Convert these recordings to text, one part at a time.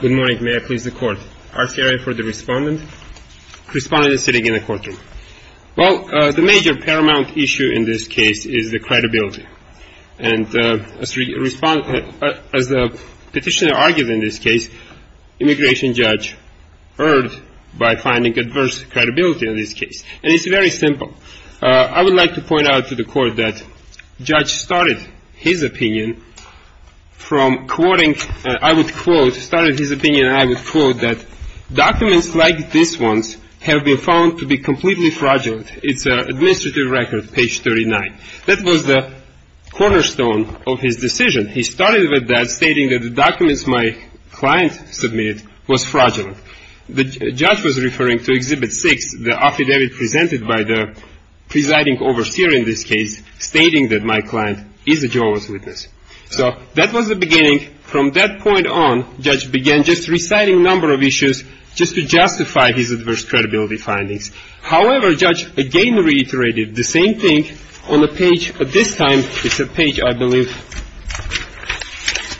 Good morning. May I please the Court? R. Ferrier for the Respondent. The Respondent is sitting in the courtroom. Well, the major paramount issue in this case is the credibility. And as the Petitioner argues in this case, immigration judge erred by finding adverse credibility in this case. And it's very simple. I would like to point out to the Court that Judge started his opinion from quoting, and I would quote, started his opinion, and I would quote, that documents like this one have been found to be completely fraudulent. It's an administrative record, page 39. That was the cornerstone of his decision. He started with that, stating that the documents my client submitted was fraudulent. The judge was referring to Exhibit 6, the affidavit presented by the presiding overseer in this case, stating that my client is a Jehovah's Witness. So that was the beginning. From that point on, Judge began just reciting a number of issues just to justify his adverse credibility findings. However, Judge again reiterated the same thing on a page, this time it's page, I believe,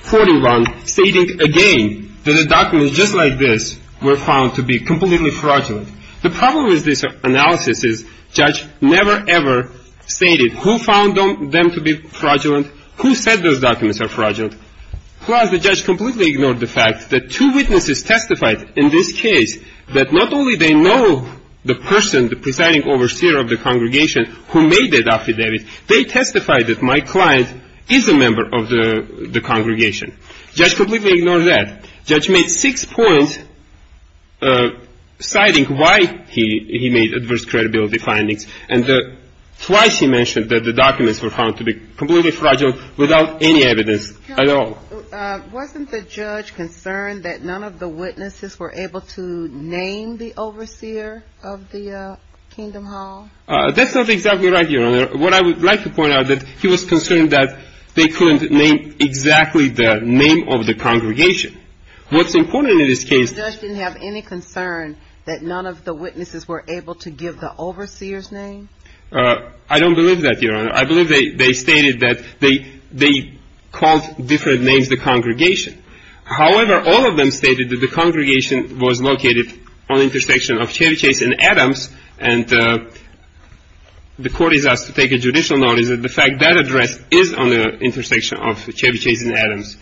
41, stating again that the documents just like this were found to be completely fraudulent. The problem with this analysis is Judge never ever stated who found them to be fraudulent, who said those documents are fraudulent. Plus, the judge completely ignored the fact that two witnesses testified in this case that not only they know the person, the presiding overseer of the congregation, who made that affidavit, they testified that my client is a member of the congregation. Judge completely ignored that. Judge made six points citing why he made adverse credibility findings, and twice he mentioned that the documents were found to be completely fraudulent without any evidence at all. Wasn't the judge concerned that none of the witnesses were able to name the overseer of the Kingdom Hall? That's not exactly right, Your Honor. What I would like to point out is that he was concerned that they couldn't name exactly the name of the congregation. What's important in this case is that the judge didn't have any concern that none of the witnesses were able to give the overseer's name? I don't believe that, Your Honor. I believe they stated that they called different names the congregation. However, all of them stated that the congregation was located on the intersection of Chevy Chase and Adams, and the court is asked to take a judicial notice that the fact that address is on the intersection of Chevy Chase and Adams.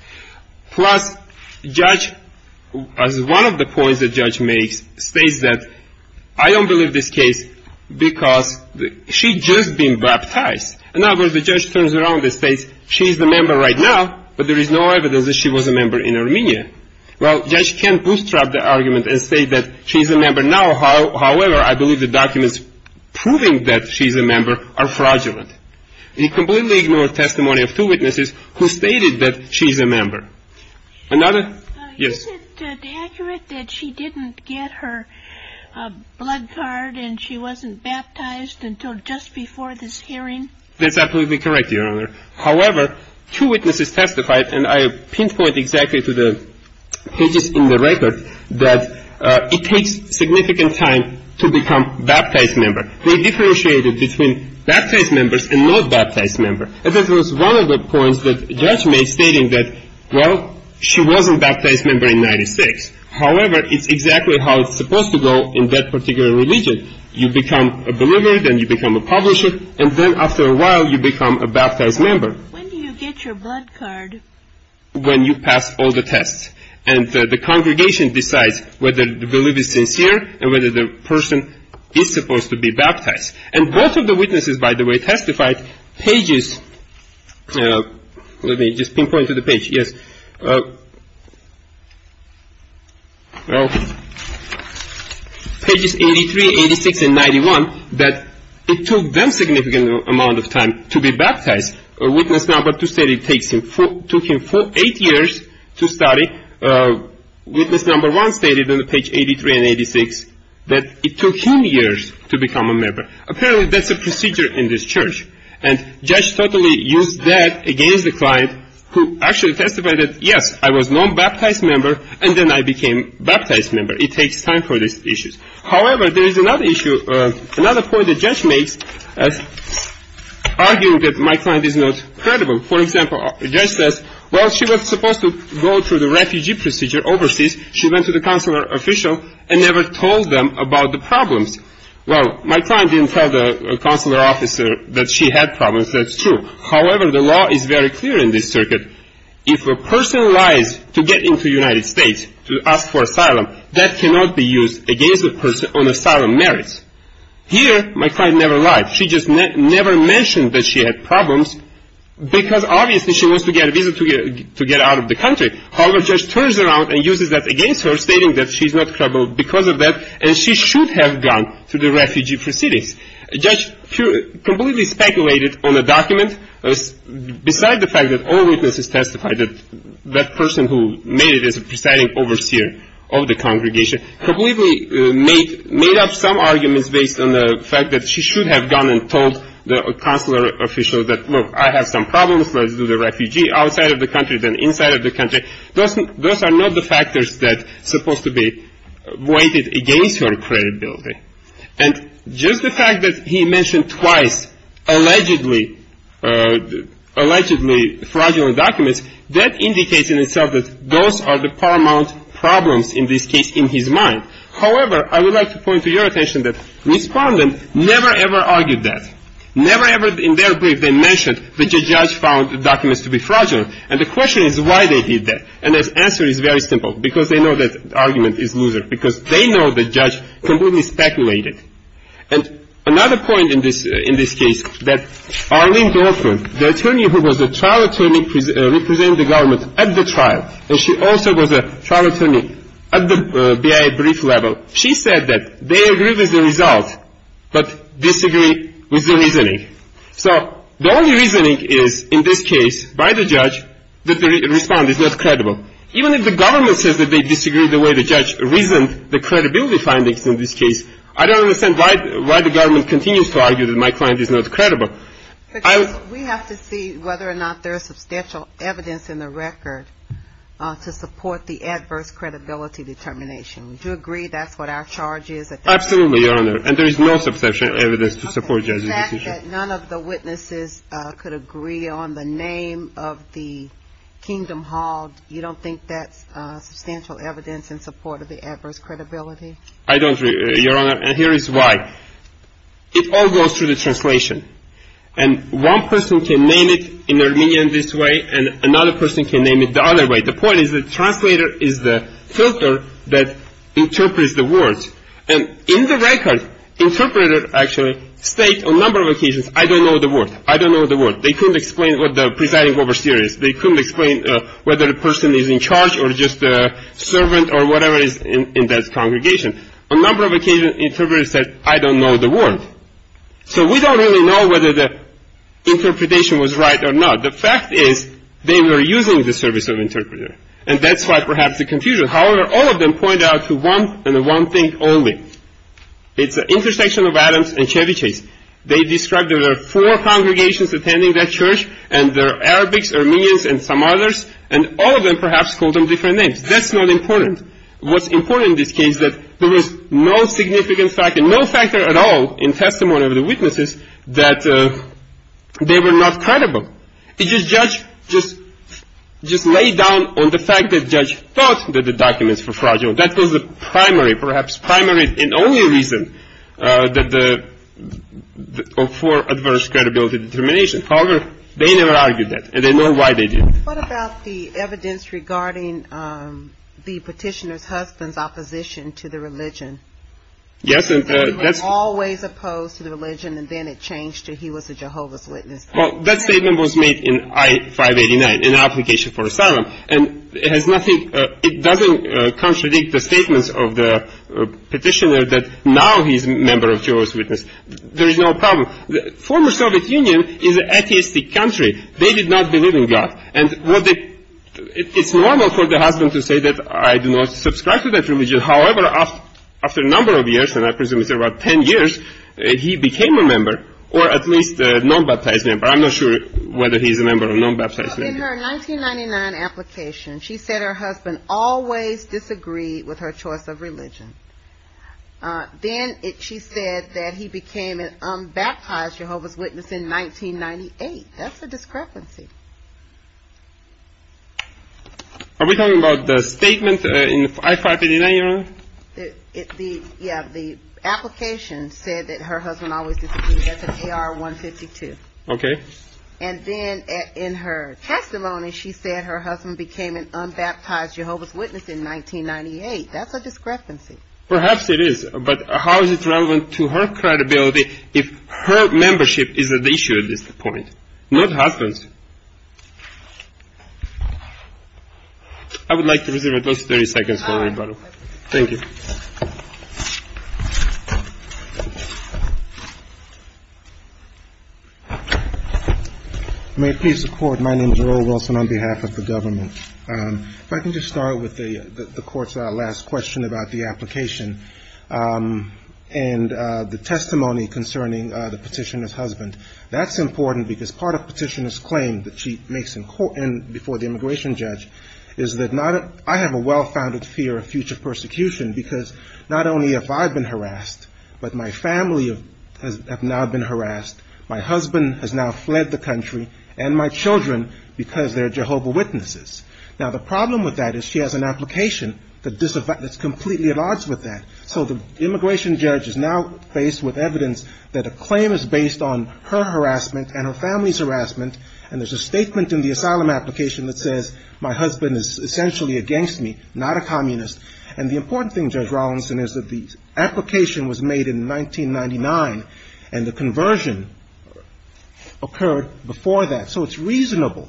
Plus, the judge, as one of the points the judge makes, states that I don't believe this case because she'd just been baptized. In other words, the judge turns around and states she's a member right now, but there is no evidence that she was a member in Armenia. Well, the judge can bootstrap the argument and say that she's a member now. However, I believe the documents proving that she's a member are fraudulent. He completely ignored testimony of two witnesses who stated that she's a member. Another? Yes. Is it accurate that she didn't get her blood card and she wasn't baptized until just before this hearing? That's absolutely correct, Your Honor. However, two witnesses testified, and I pinpoint exactly to the pages in the record, that it takes significant time to become baptized member. They differentiated between baptized members and not baptized member. And that was one of the points that the judge made, stating that, well, she wasn't baptized member in 1996. However, it's exactly how it's supposed to go in that particular religion. You become a believer, then you become a publisher, and then after a while you become a baptized member. When do you get your blood card? When you pass all the tests. And the congregation decides whether the belief is sincere and whether the person is supposed to be baptized. And both of the witnesses, by the way, testified pages, let me just pinpoint to the page, yes, well, pages 83, 86, and 91, that it took them significant amount of time to be baptized. Witness number two stated it took him eight years to study. Witness number one stated on page 83 and 86 that it took him years to become a member. Apparently, that's a procedure in this church. And judge totally used that against the client, who actually testified that, yes, I was non-baptized member, and then I became baptized member. It takes time for these issues. However, there is another issue, another point the judge makes, arguing that my client is not credible. For example, the judge says, well, she was supposed to go through the refugee procedure overseas. She went to the consular official and never told them about the problems. Well, my client didn't tell the consular officer that she had problems. That's true. However, the law is very clear in this circuit. If a person lies to get into the United States to ask for asylum, that cannot be used against a person on asylum merits. Here, my client never lied. She just never mentioned that she had problems because, obviously, she wants to get a visa to get out of the country. However, the judge turns around and uses that against her, stating that she's not credible because of that, and she should have gone through the refugee proceedings. Judge completely speculated on a document beside the fact that all witnesses testified that that person who made it as a presiding overseer of the congregation completely made up some arguments based on the fact that she should have gone and told the consular official that, look, I have some problems. Let's do the refugee outside of the country than inside of the country. Those are not the factors that are supposed to be weighted against her credibility. And just the fact that he mentioned twice allegedly fraudulent documents, that indicates in itself that those are the paramount problems in this case in his mind. However, I would like to point to your attention that Respondent never ever argued that. Never ever in their brief they mentioned that the judge found the documents to be fraudulent. And the question is why they did that. And the answer is very simple, because they know that argument is loser, because they know the judge completely speculated. And another point in this case, that Arlene Dorfman, the attorney who was a trial attorney representing the government at the trial, and she also was a trial attorney at the BIA brief level, she said that they agree with the result but disagree with the reasoning. So the only reasoning is in this case by the judge that the Respondent is not credible. Even if the government says that they disagree the way the judge reasoned the credibility findings in this case, I don't understand why the government continues to argue that my client is not credible. We have to see whether or not there is substantial evidence in the record to support the adverse credibility determination. Would you agree that's what our charge is? Absolutely, Your Honor. And there is no substantial evidence to support the judge's decision. Okay. The fact that none of the witnesses could agree on the name of the kingdom hog, you don't think that's substantial evidence in support of the adverse credibility? I don't agree, Your Honor. And here is why. It all goes through the translation. And one person can name it in Armenian this way, and another person can name it the other way. The point is the translator is the filter that interprets the words. And in the record, interpreter actually states on a number of occasions, I don't know the word. I don't know the word. They couldn't explain what the presiding overseer is. They couldn't explain whether a person is in charge or just a servant or whatever is in that congregation. On a number of occasions, interpreter said, I don't know the word. So we don't really know whether the interpretation was right or not. The fact is they were using the service of interpreter. And that's why perhaps the confusion. However, all of them point out to one and one thing only. It's an intersection of Adams and Ceviches. They described there were four congregations attending that church, and there are Arabics, Armenians, and some others. And all of them perhaps called them different names. That's not important. What's important in this case is that there was no significant fact and no factor at all in testimony of the witnesses that they were not credible. It just laid down on the fact that the judge thought that the documents were fragile. That was the primary, perhaps primary and only reason for adverse credibility determination. However, they never argued that, and they know why they did. What about the evidence regarding the petitioner's husband's opposition to the religion? Yes, and that's He was always opposed to the religion, and then it changed to he was a Jehovah's Witness. Well, that statement was made in I-589, an application for asylum. And it has nothing it doesn't contradict the statements of the petitioner that now he's a member of Jehovah's Witnesses. There is no problem. The former Soviet Union is an atheistic country. They did not believe in God. And it's normal for the husband to say that I do not subscribe to that religion. However, after a number of years, and I presume it's about ten years, he became a member, or at least a non-baptized member. I'm not sure whether he's a member of non-baptized members. In her 1999 application, she said her husband always disagreed with her choice of religion. Then she said that he became an unbaptized Jehovah's Witness in 1998. That's a discrepancy. Are we talking about the statement in I-589, Your Honor? Yeah, the application said that her husband always disagreed. That's in AR-152. Okay. And then in her testimony, she said her husband became an unbaptized Jehovah's Witness in 1998. That's a discrepancy. Perhaps it is. But how is it relevant to her credibility if her membership is at issue at this point, not her husband's? I would like to reserve at least 30 seconds for rebuttal. Thank you. May it please the Court, my name is Earl Wilson on behalf of the government. If I can just start with the Court's last question about the application and the testimony concerning the petitioner's husband. That's important because part of the petitioner's claim that she makes before the immigration judge is that I have a well-founded fear of future persecution because not only have I been harassed, but my family have now been harassed. My husband has now fled the country and my children because they're Jehovah's Witnesses. Now, the problem with that is she has an application that's completely at odds with that. So the immigration judge is now faced with evidence that a claim is based on her harassment and her family's harassment, and there's a statement in the asylum application that says my husband is essentially a gangster, not a communist. And the important thing, Judge Rawlinson, is that the application was made in 1999 and the conversion occurred before that. So it's reasonable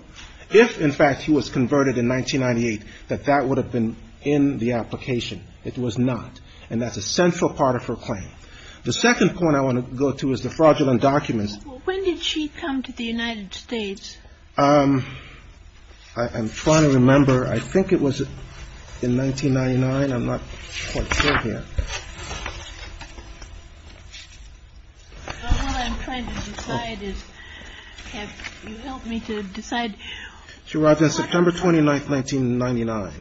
if, in fact, he was converted in 1998, that that would have been in the application. It was not. And that's a central part of her claim. The second point I want to go to is the fraudulent documents. When did she come to the United States? I'm trying to remember. I think it was in 1999. I'm not quite sure here. What I'm trying to decide is, have you helped me to decide? She arrived on September 29th, 1999.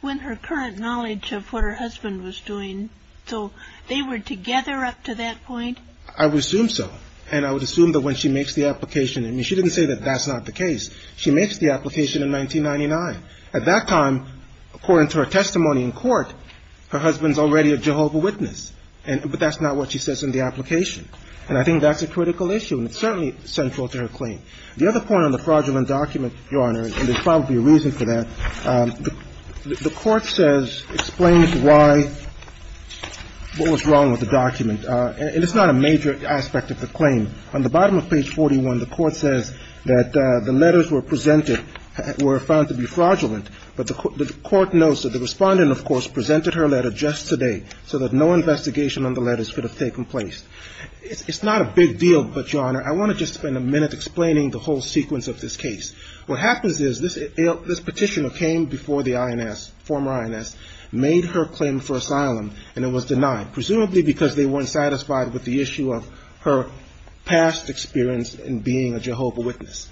When her current knowledge of what her husband was doing. So they were together up to that point? I would assume so. And I would assume that when she makes the application, I mean, she didn't say that that's not the case. She makes the application in 1999. At that time, according to her testimony in court, her husband's already a Jehovah witness, but that's not what she says in the application. And I think that's a critical issue, and it's certainly central to her claim. The other point on the fraudulent document, Your Honor, and there's probably a reason for that, the Court says, explains why, what was wrong with the document. And it's not a major aspect of the claim. On the bottom of page 41, the Court says that the letters were presented were found to be fraudulent, but the Court notes that the respondent, of course, presented her letter just today, so that no investigation on the letters could have taken place. It's not a big deal, but, Your Honor, I want to just spend a minute explaining the whole sequence of this case. What happens is, this petitioner came before the INS, former INS, made her claim for asylum, and it was denied, presumably because they weren't satisfied with the issue of her past experience in being a Jehovah witness.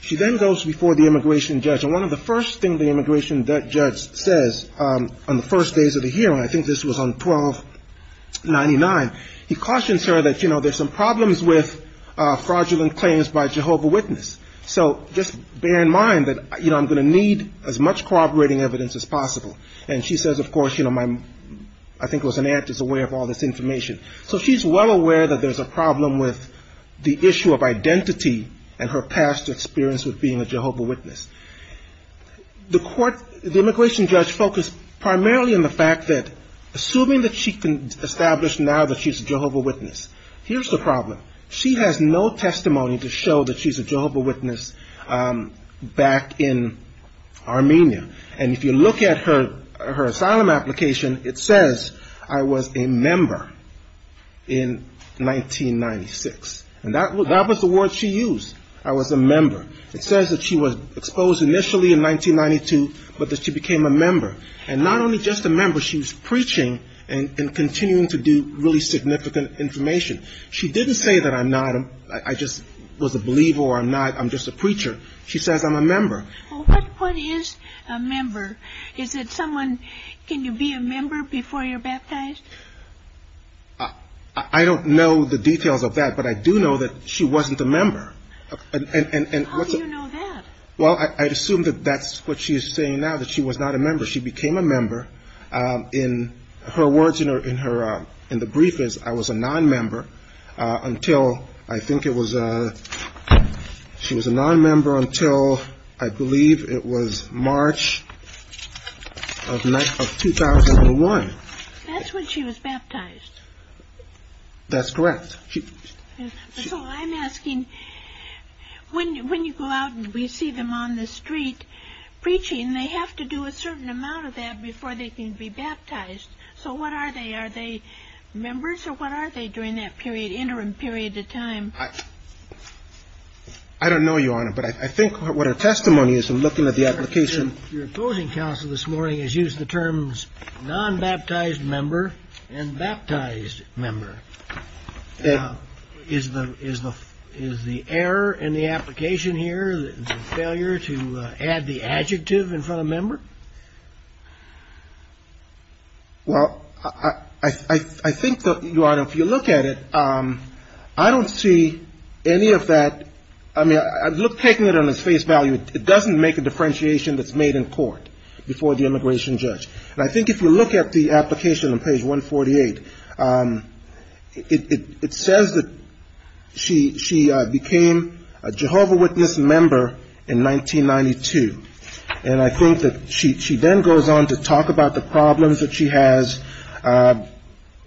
She then goes before the immigration judge, and one of the first things the immigration judge says on the first days of the hearing, I think this was on 1299, he cautions her that, you know, there's some problems with fraudulent claims by Jehovah witness. So just bear in mind that, you know, I'm going to need as much corroborating evidence as possible. And she says, of course, you know, I think it was an act as a way of all this information. So she's well aware that there's a problem with the issue of identity and her past experience with being a Jehovah witness. The immigration judge focused primarily on the fact that, assuming that she can establish now that she's a Jehovah witness, here's the problem. She has no testimony to show that she's a Jehovah witness back in Armenia. And if you look at her asylum application, it says I was a member in 1996. And that was the word she used, I was a member. It says that she was exposed initially in 1992, but that she became a member. And not only just a member, she was preaching and continuing to do really significant information. She didn't say that I'm not, I just was a believer or I'm not, I'm just a preacher. She says I'm a member. Well, what is a member? Is it someone, can you be a member before you're baptized? I don't know the details of that, but I do know that she wasn't a member. How do you know that? Well, I'd assume that that's what she's saying now, that she was not a member. She became a member. In her words, in her, in the briefings, I was a non-member until I think it was, she was a non-member until I became a member. I believe it was March of 2001. That's when she was baptized. That's correct. So I'm asking, when you go out and we see them on the street preaching, they have to do a certain amount of that before they can be baptized. So what are they? Are they members or what are they during that period, interim period of time? I don't know, Your Honor, but I think what her testimony is in looking at the application. Your opposing counsel this morning has used the terms non-baptized member and baptized member. Is the error in the application here, the failure to add the adjective in front of member? Well, I think, Your Honor, if you look at it, I don't see any of that. I mean, I look, taking it on its face value, it doesn't make a differentiation that's made in court before the immigration judge. And I think if you look at the application on page 148, it says that she became a Jehovah Witness member in 1992. And I think that she then goes on to talk about the problems that she has.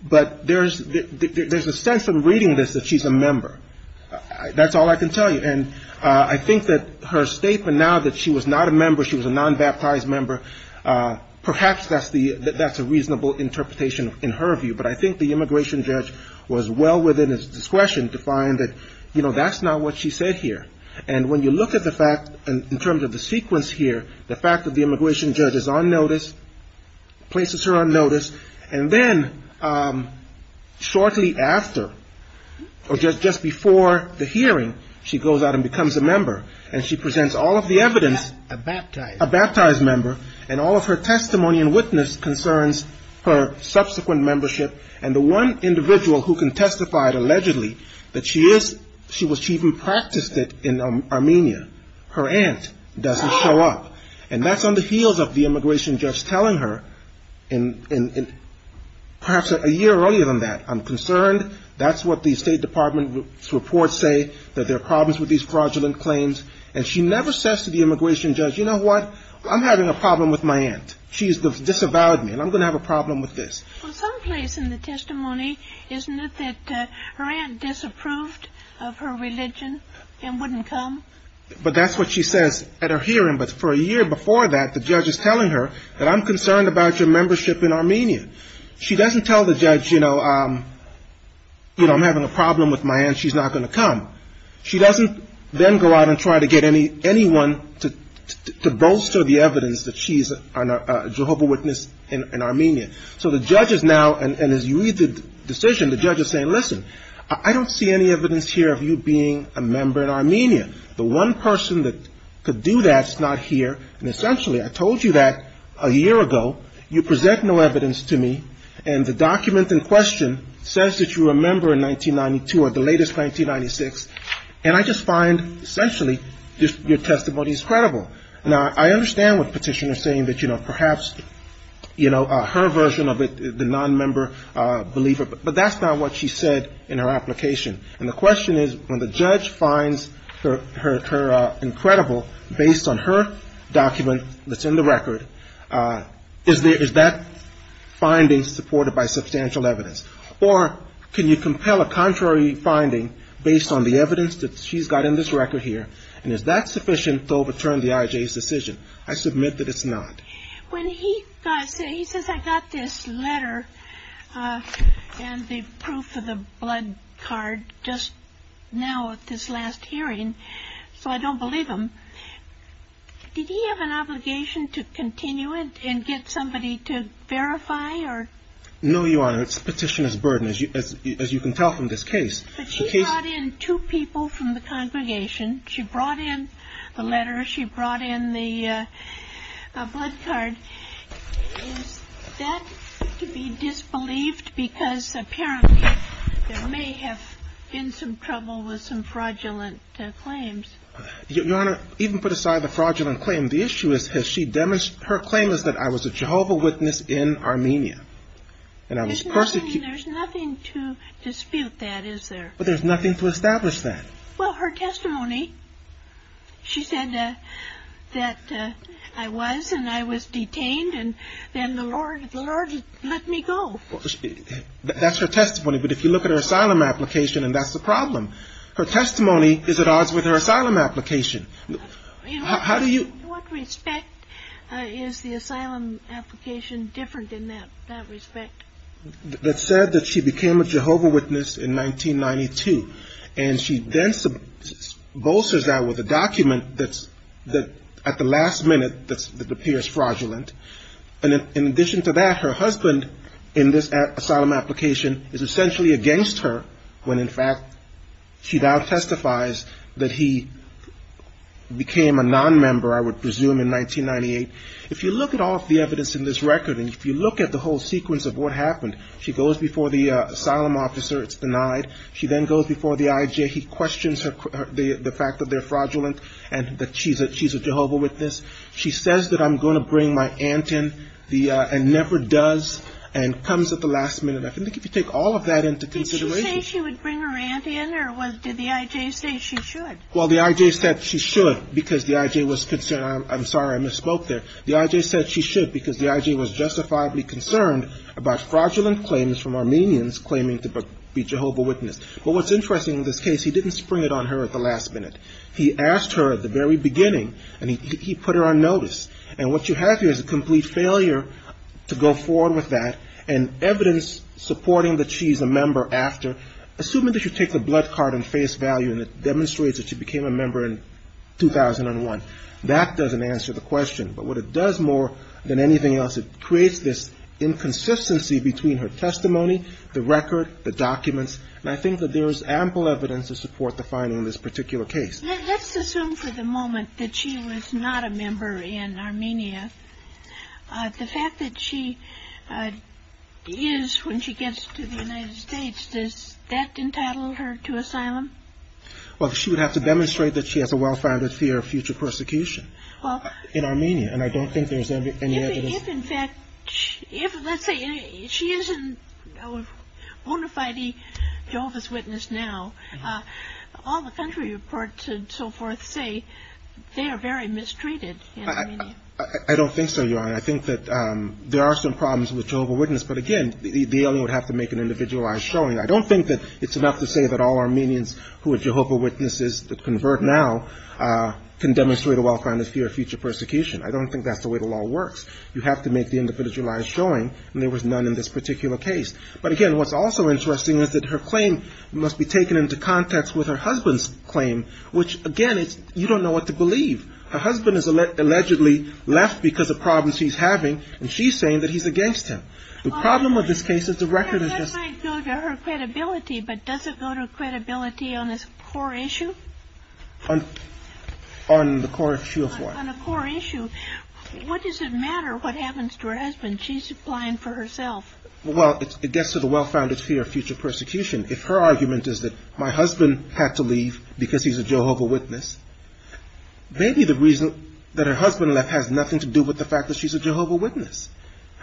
But there's a sense in reading this that she's a member. That's all I can tell you. And I think that her statement now that she was not a member, she was a non-baptized member, perhaps that's a reasonable interpretation in her view. But I think the immigration judge was well within his discretion to find that, you know, that's not what she said here. And when you look at the fact in terms of the sequence here, the fact that the immigration judge is on notice, places her on notice, and then shortly after, or just before the hearing, she goes out and becomes a member. And she presents all of the evidence. A baptized member. And all of her testimony and witness concerns her subsequent membership. And the one individual who can testify allegedly that she is, she even practiced it in Armenia, her aunt, doesn't show up. And that's on the heels of the immigration judge telling her, perhaps a year earlier than that, I'm concerned, that's what the State Department's reports say, that there are problems with these fraudulent claims. And she never says to the immigration judge, you know what, I'm having a problem with my aunt. She's disavowed me and I'm going to have a problem with this. But that's what she says at her hearing, but for a year before that, the judge is telling her that I'm concerned about your membership in Armenia. She doesn't tell the judge, you know, I'm having a problem with my aunt, she's not going to come. She doesn't then go out and try to get anyone to bolster the evidence that she's a Jehovah witness in Armenia. So the judge is now, and as you read the decision, the judge is saying, listen, I don't see any evidence here of you being a member in Armenia. The one person that could do that's not here. And essentially, I told you that a year ago. You present no evidence to me. And the document in question says that you were a member in 1992, or the latest, 1996. And I just find, essentially, your testimony is credible. Now, I understand what the petitioner is saying, that, you know, perhaps, you know, her version of it, the nonmember believer, but that's not what she said in her application. And the question is, when the judge finds her incredible, based on her document that's in the record, is that finding supported by substantial evidence? Or can you compel a contrary finding based on the evidence that she's got in this record here, and is that sufficient to overturn the IJ's decision? I submit that it's not. When he says, I got this letter and the proof of the blood card just now at this last hearing, so I don't believe him, did he have an obligation to continue it and get somebody to verify? No, Your Honor. It's a petitioner's burden, as you can tell from this case. But she brought in two people from the congregation. She brought in the letter. She brought in the blood card. Is that to be disbelieved? Because, apparently, there may have been some trouble with some fraudulent claims. Your Honor, even put aside the fraudulent claim, the issue is, her claim is that I was a Jehovah witness in Armenia. There's nothing to dispute that, is there? But there's nothing to establish that. Well, her testimony, she said that I was, and I was detained, and then the Lord let me go. That's her testimony, but if you look at her asylum application, and that's the problem. Her testimony is at odds with her asylum application. In what respect is the asylum application different in that respect? It said that she became a Jehovah witness in 1992, and she then bolsters that with a document that, at the last minute, that appears fraudulent, and in addition to that, her husband in this asylum application is essentially against her, when in fact she now testifies that he became a nonmember, I would presume, in 1998. If you look at all of the evidence in this record, and if you look at the whole sequence of what happened, she goes before the asylum officer, it's denied. She then goes before the IJ. He questions the fact that they're fraudulent, and that she's a Jehovah witness. She says that I'm going to bring my aunt in, and never does, and comes at the last minute. I think if you take all of that into consideration. Did she say she would bring her aunt in, or did the IJ say she should? Well, the IJ said she should, because the IJ was concerned. I'm sorry, I misspoke there. The IJ said she should, because the IJ was justifiably concerned about fraudulent claims from Armenians claiming to be Jehovah witness. But what's interesting in this case, he didn't spring it on her at the last minute. He asked her at the very beginning, and he put her on notice. And what you have here is a complete failure to go forward with that, and evidence supporting that she's a member after, assuming that you take the blood card and face value, and it demonstrates that she became a member in 2001. That doesn't answer the question. But what it does more than anything else, it creates this inconsistency between her testimony, the record, the documents, and I think that there is ample evidence to support the finding in this particular case. Let's assume for the moment that she was not a member in Armenia. The fact that she is when she gets to the United States, does that entitle her to asylum? Well, she would have to demonstrate that she has a well-founded fear of future persecution in Armenia. And I don't think there's any evidence. If, in fact, let's say she is a bona fide Jehovah's Witness now, all the country reports and so forth say they are very mistreated in Armenia. I don't think so, Your Honor. I think that there are some problems with Jehovah's Witness. But again, the alien would have to make an individualized showing. I don't think that it's enough to say that all Armenians who are Jehovah's Witnesses that convert now can demonstrate a well-founded fear of future persecution. I don't think that's the way the law works. You have to make the individualized showing, and there was none in this particular case. But again, what's also interesting is that her claim must be taken into context with her husband's claim, which, again, you don't know what to believe. Her husband is allegedly left because of problems she's having, and she's saying that he's against him. The problem with this case is the record is just... That might go to her credibility, but does it go to credibility on this core issue? On the core issue of what? On the core issue, what does it matter what happens to her husband? She's applying for herself. Well, it gets to the well-founded fear of future persecution. If her argument is that my husband had to leave because he's a Jehovah's Witness, maybe the reason that her husband left has nothing to do with the fact that she's a Jehovah's Witness.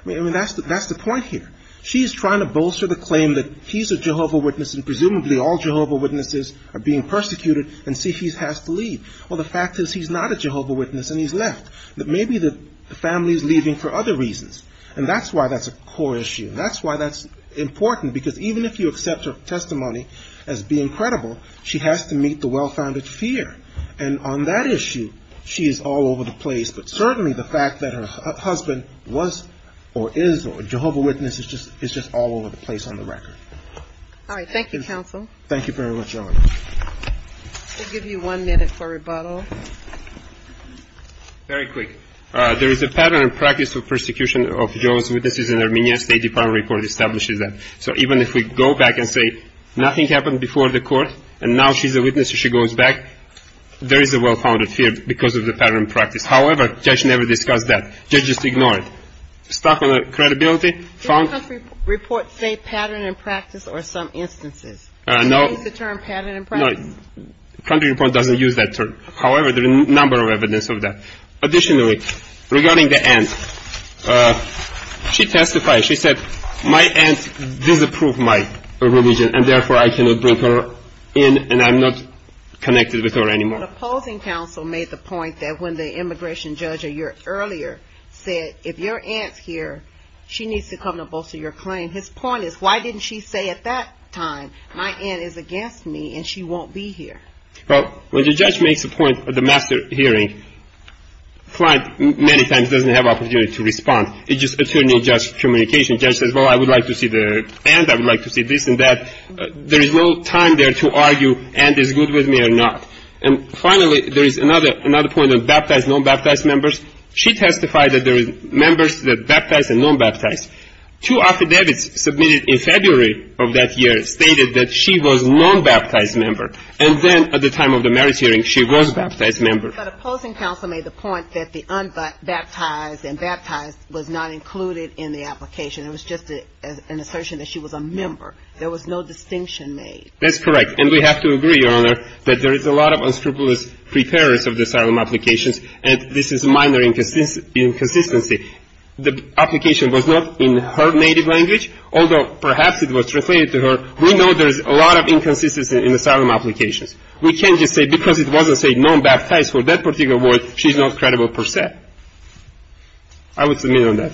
I mean, that's the point here. She's trying to bolster the claim that he's a Jehovah's Witness and presumably all Jehovah's Witnesses are being persecuted and see he has to leave. Well, the fact is he's not a Jehovah's Witness and he's left. Maybe the family is leaving for other reasons, and that's why that's a core issue. That's why that's important, because even if you accept her testimony as being credible, she has to meet the well-founded fear. And on that issue, she is all over the place. But certainly the fact that her husband was or is a Jehovah's Witness is just all over the place on the record. All right. Thank you, counsel. Thank you very much, Ellen. We'll give you one minute for rebuttal. Very quick. There is a pattern and practice of persecution of Jehovah's Witnesses in Armenia. The State Department report establishes that. So even if we go back and say nothing happened before the court and now she's a Witness and she goes back, there is a well-founded fear because of the pattern and practice. However, the judge never discussed that. The judge just ignored it. Stopped on the credibility. Did the country report say pattern and practice or some instances? No. Did she use the term pattern and practice? No. The country report doesn't use that term. However, there are a number of evidence of that. Additionally, regarding the aunt, she testified. She said, my aunt disapproved my religion and therefore I cannot bring her in and I'm not connected with her anymore. The opposing counsel made the point that when the immigration judge a year earlier said, if your aunt's here, she needs to come to bolster your claim. His point is, why didn't she say at that time, my aunt is against me and she won't be here? Well, when the judge makes a point at the master hearing, client many times doesn't have opportunity to respond. It's just attorney-judge communication. Judge says, well, I would like to see the aunt. I would like to see this and that. There is no time there to argue aunt is good with me or not. And finally, there is another point of baptized, non-baptized members. She testified that there are members that are baptized and non-baptized. Two affidavits submitted in February of that year stated that she was non-baptized member. And then at the time of the marriage hearing, she was baptized member. But opposing counsel made the point that the unbaptized and baptized was not included in the application. It was just an assertion that she was a member. There was no distinction made. That's correct. And we have to agree, Your Honor, that there is a lot of unscrupulous preparers of the asylum applications, and this is minor inconsistency. The application was not in her native language, although perhaps it was translated to her. We know there's a lot of inconsistency in asylum applications. We can't just say because it wasn't said non-baptized for that particular word, she's not credible per se. I would submit on that.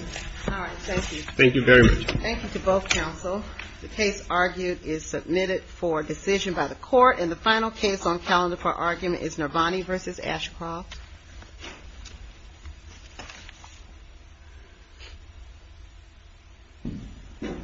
All right. Thank you. Thank you very much. Thank you to both counsel. The case argued is submitted for decision by the court. And the final case on calendar for argument is Nirvani v. Ashcroft. Thank you, counsel.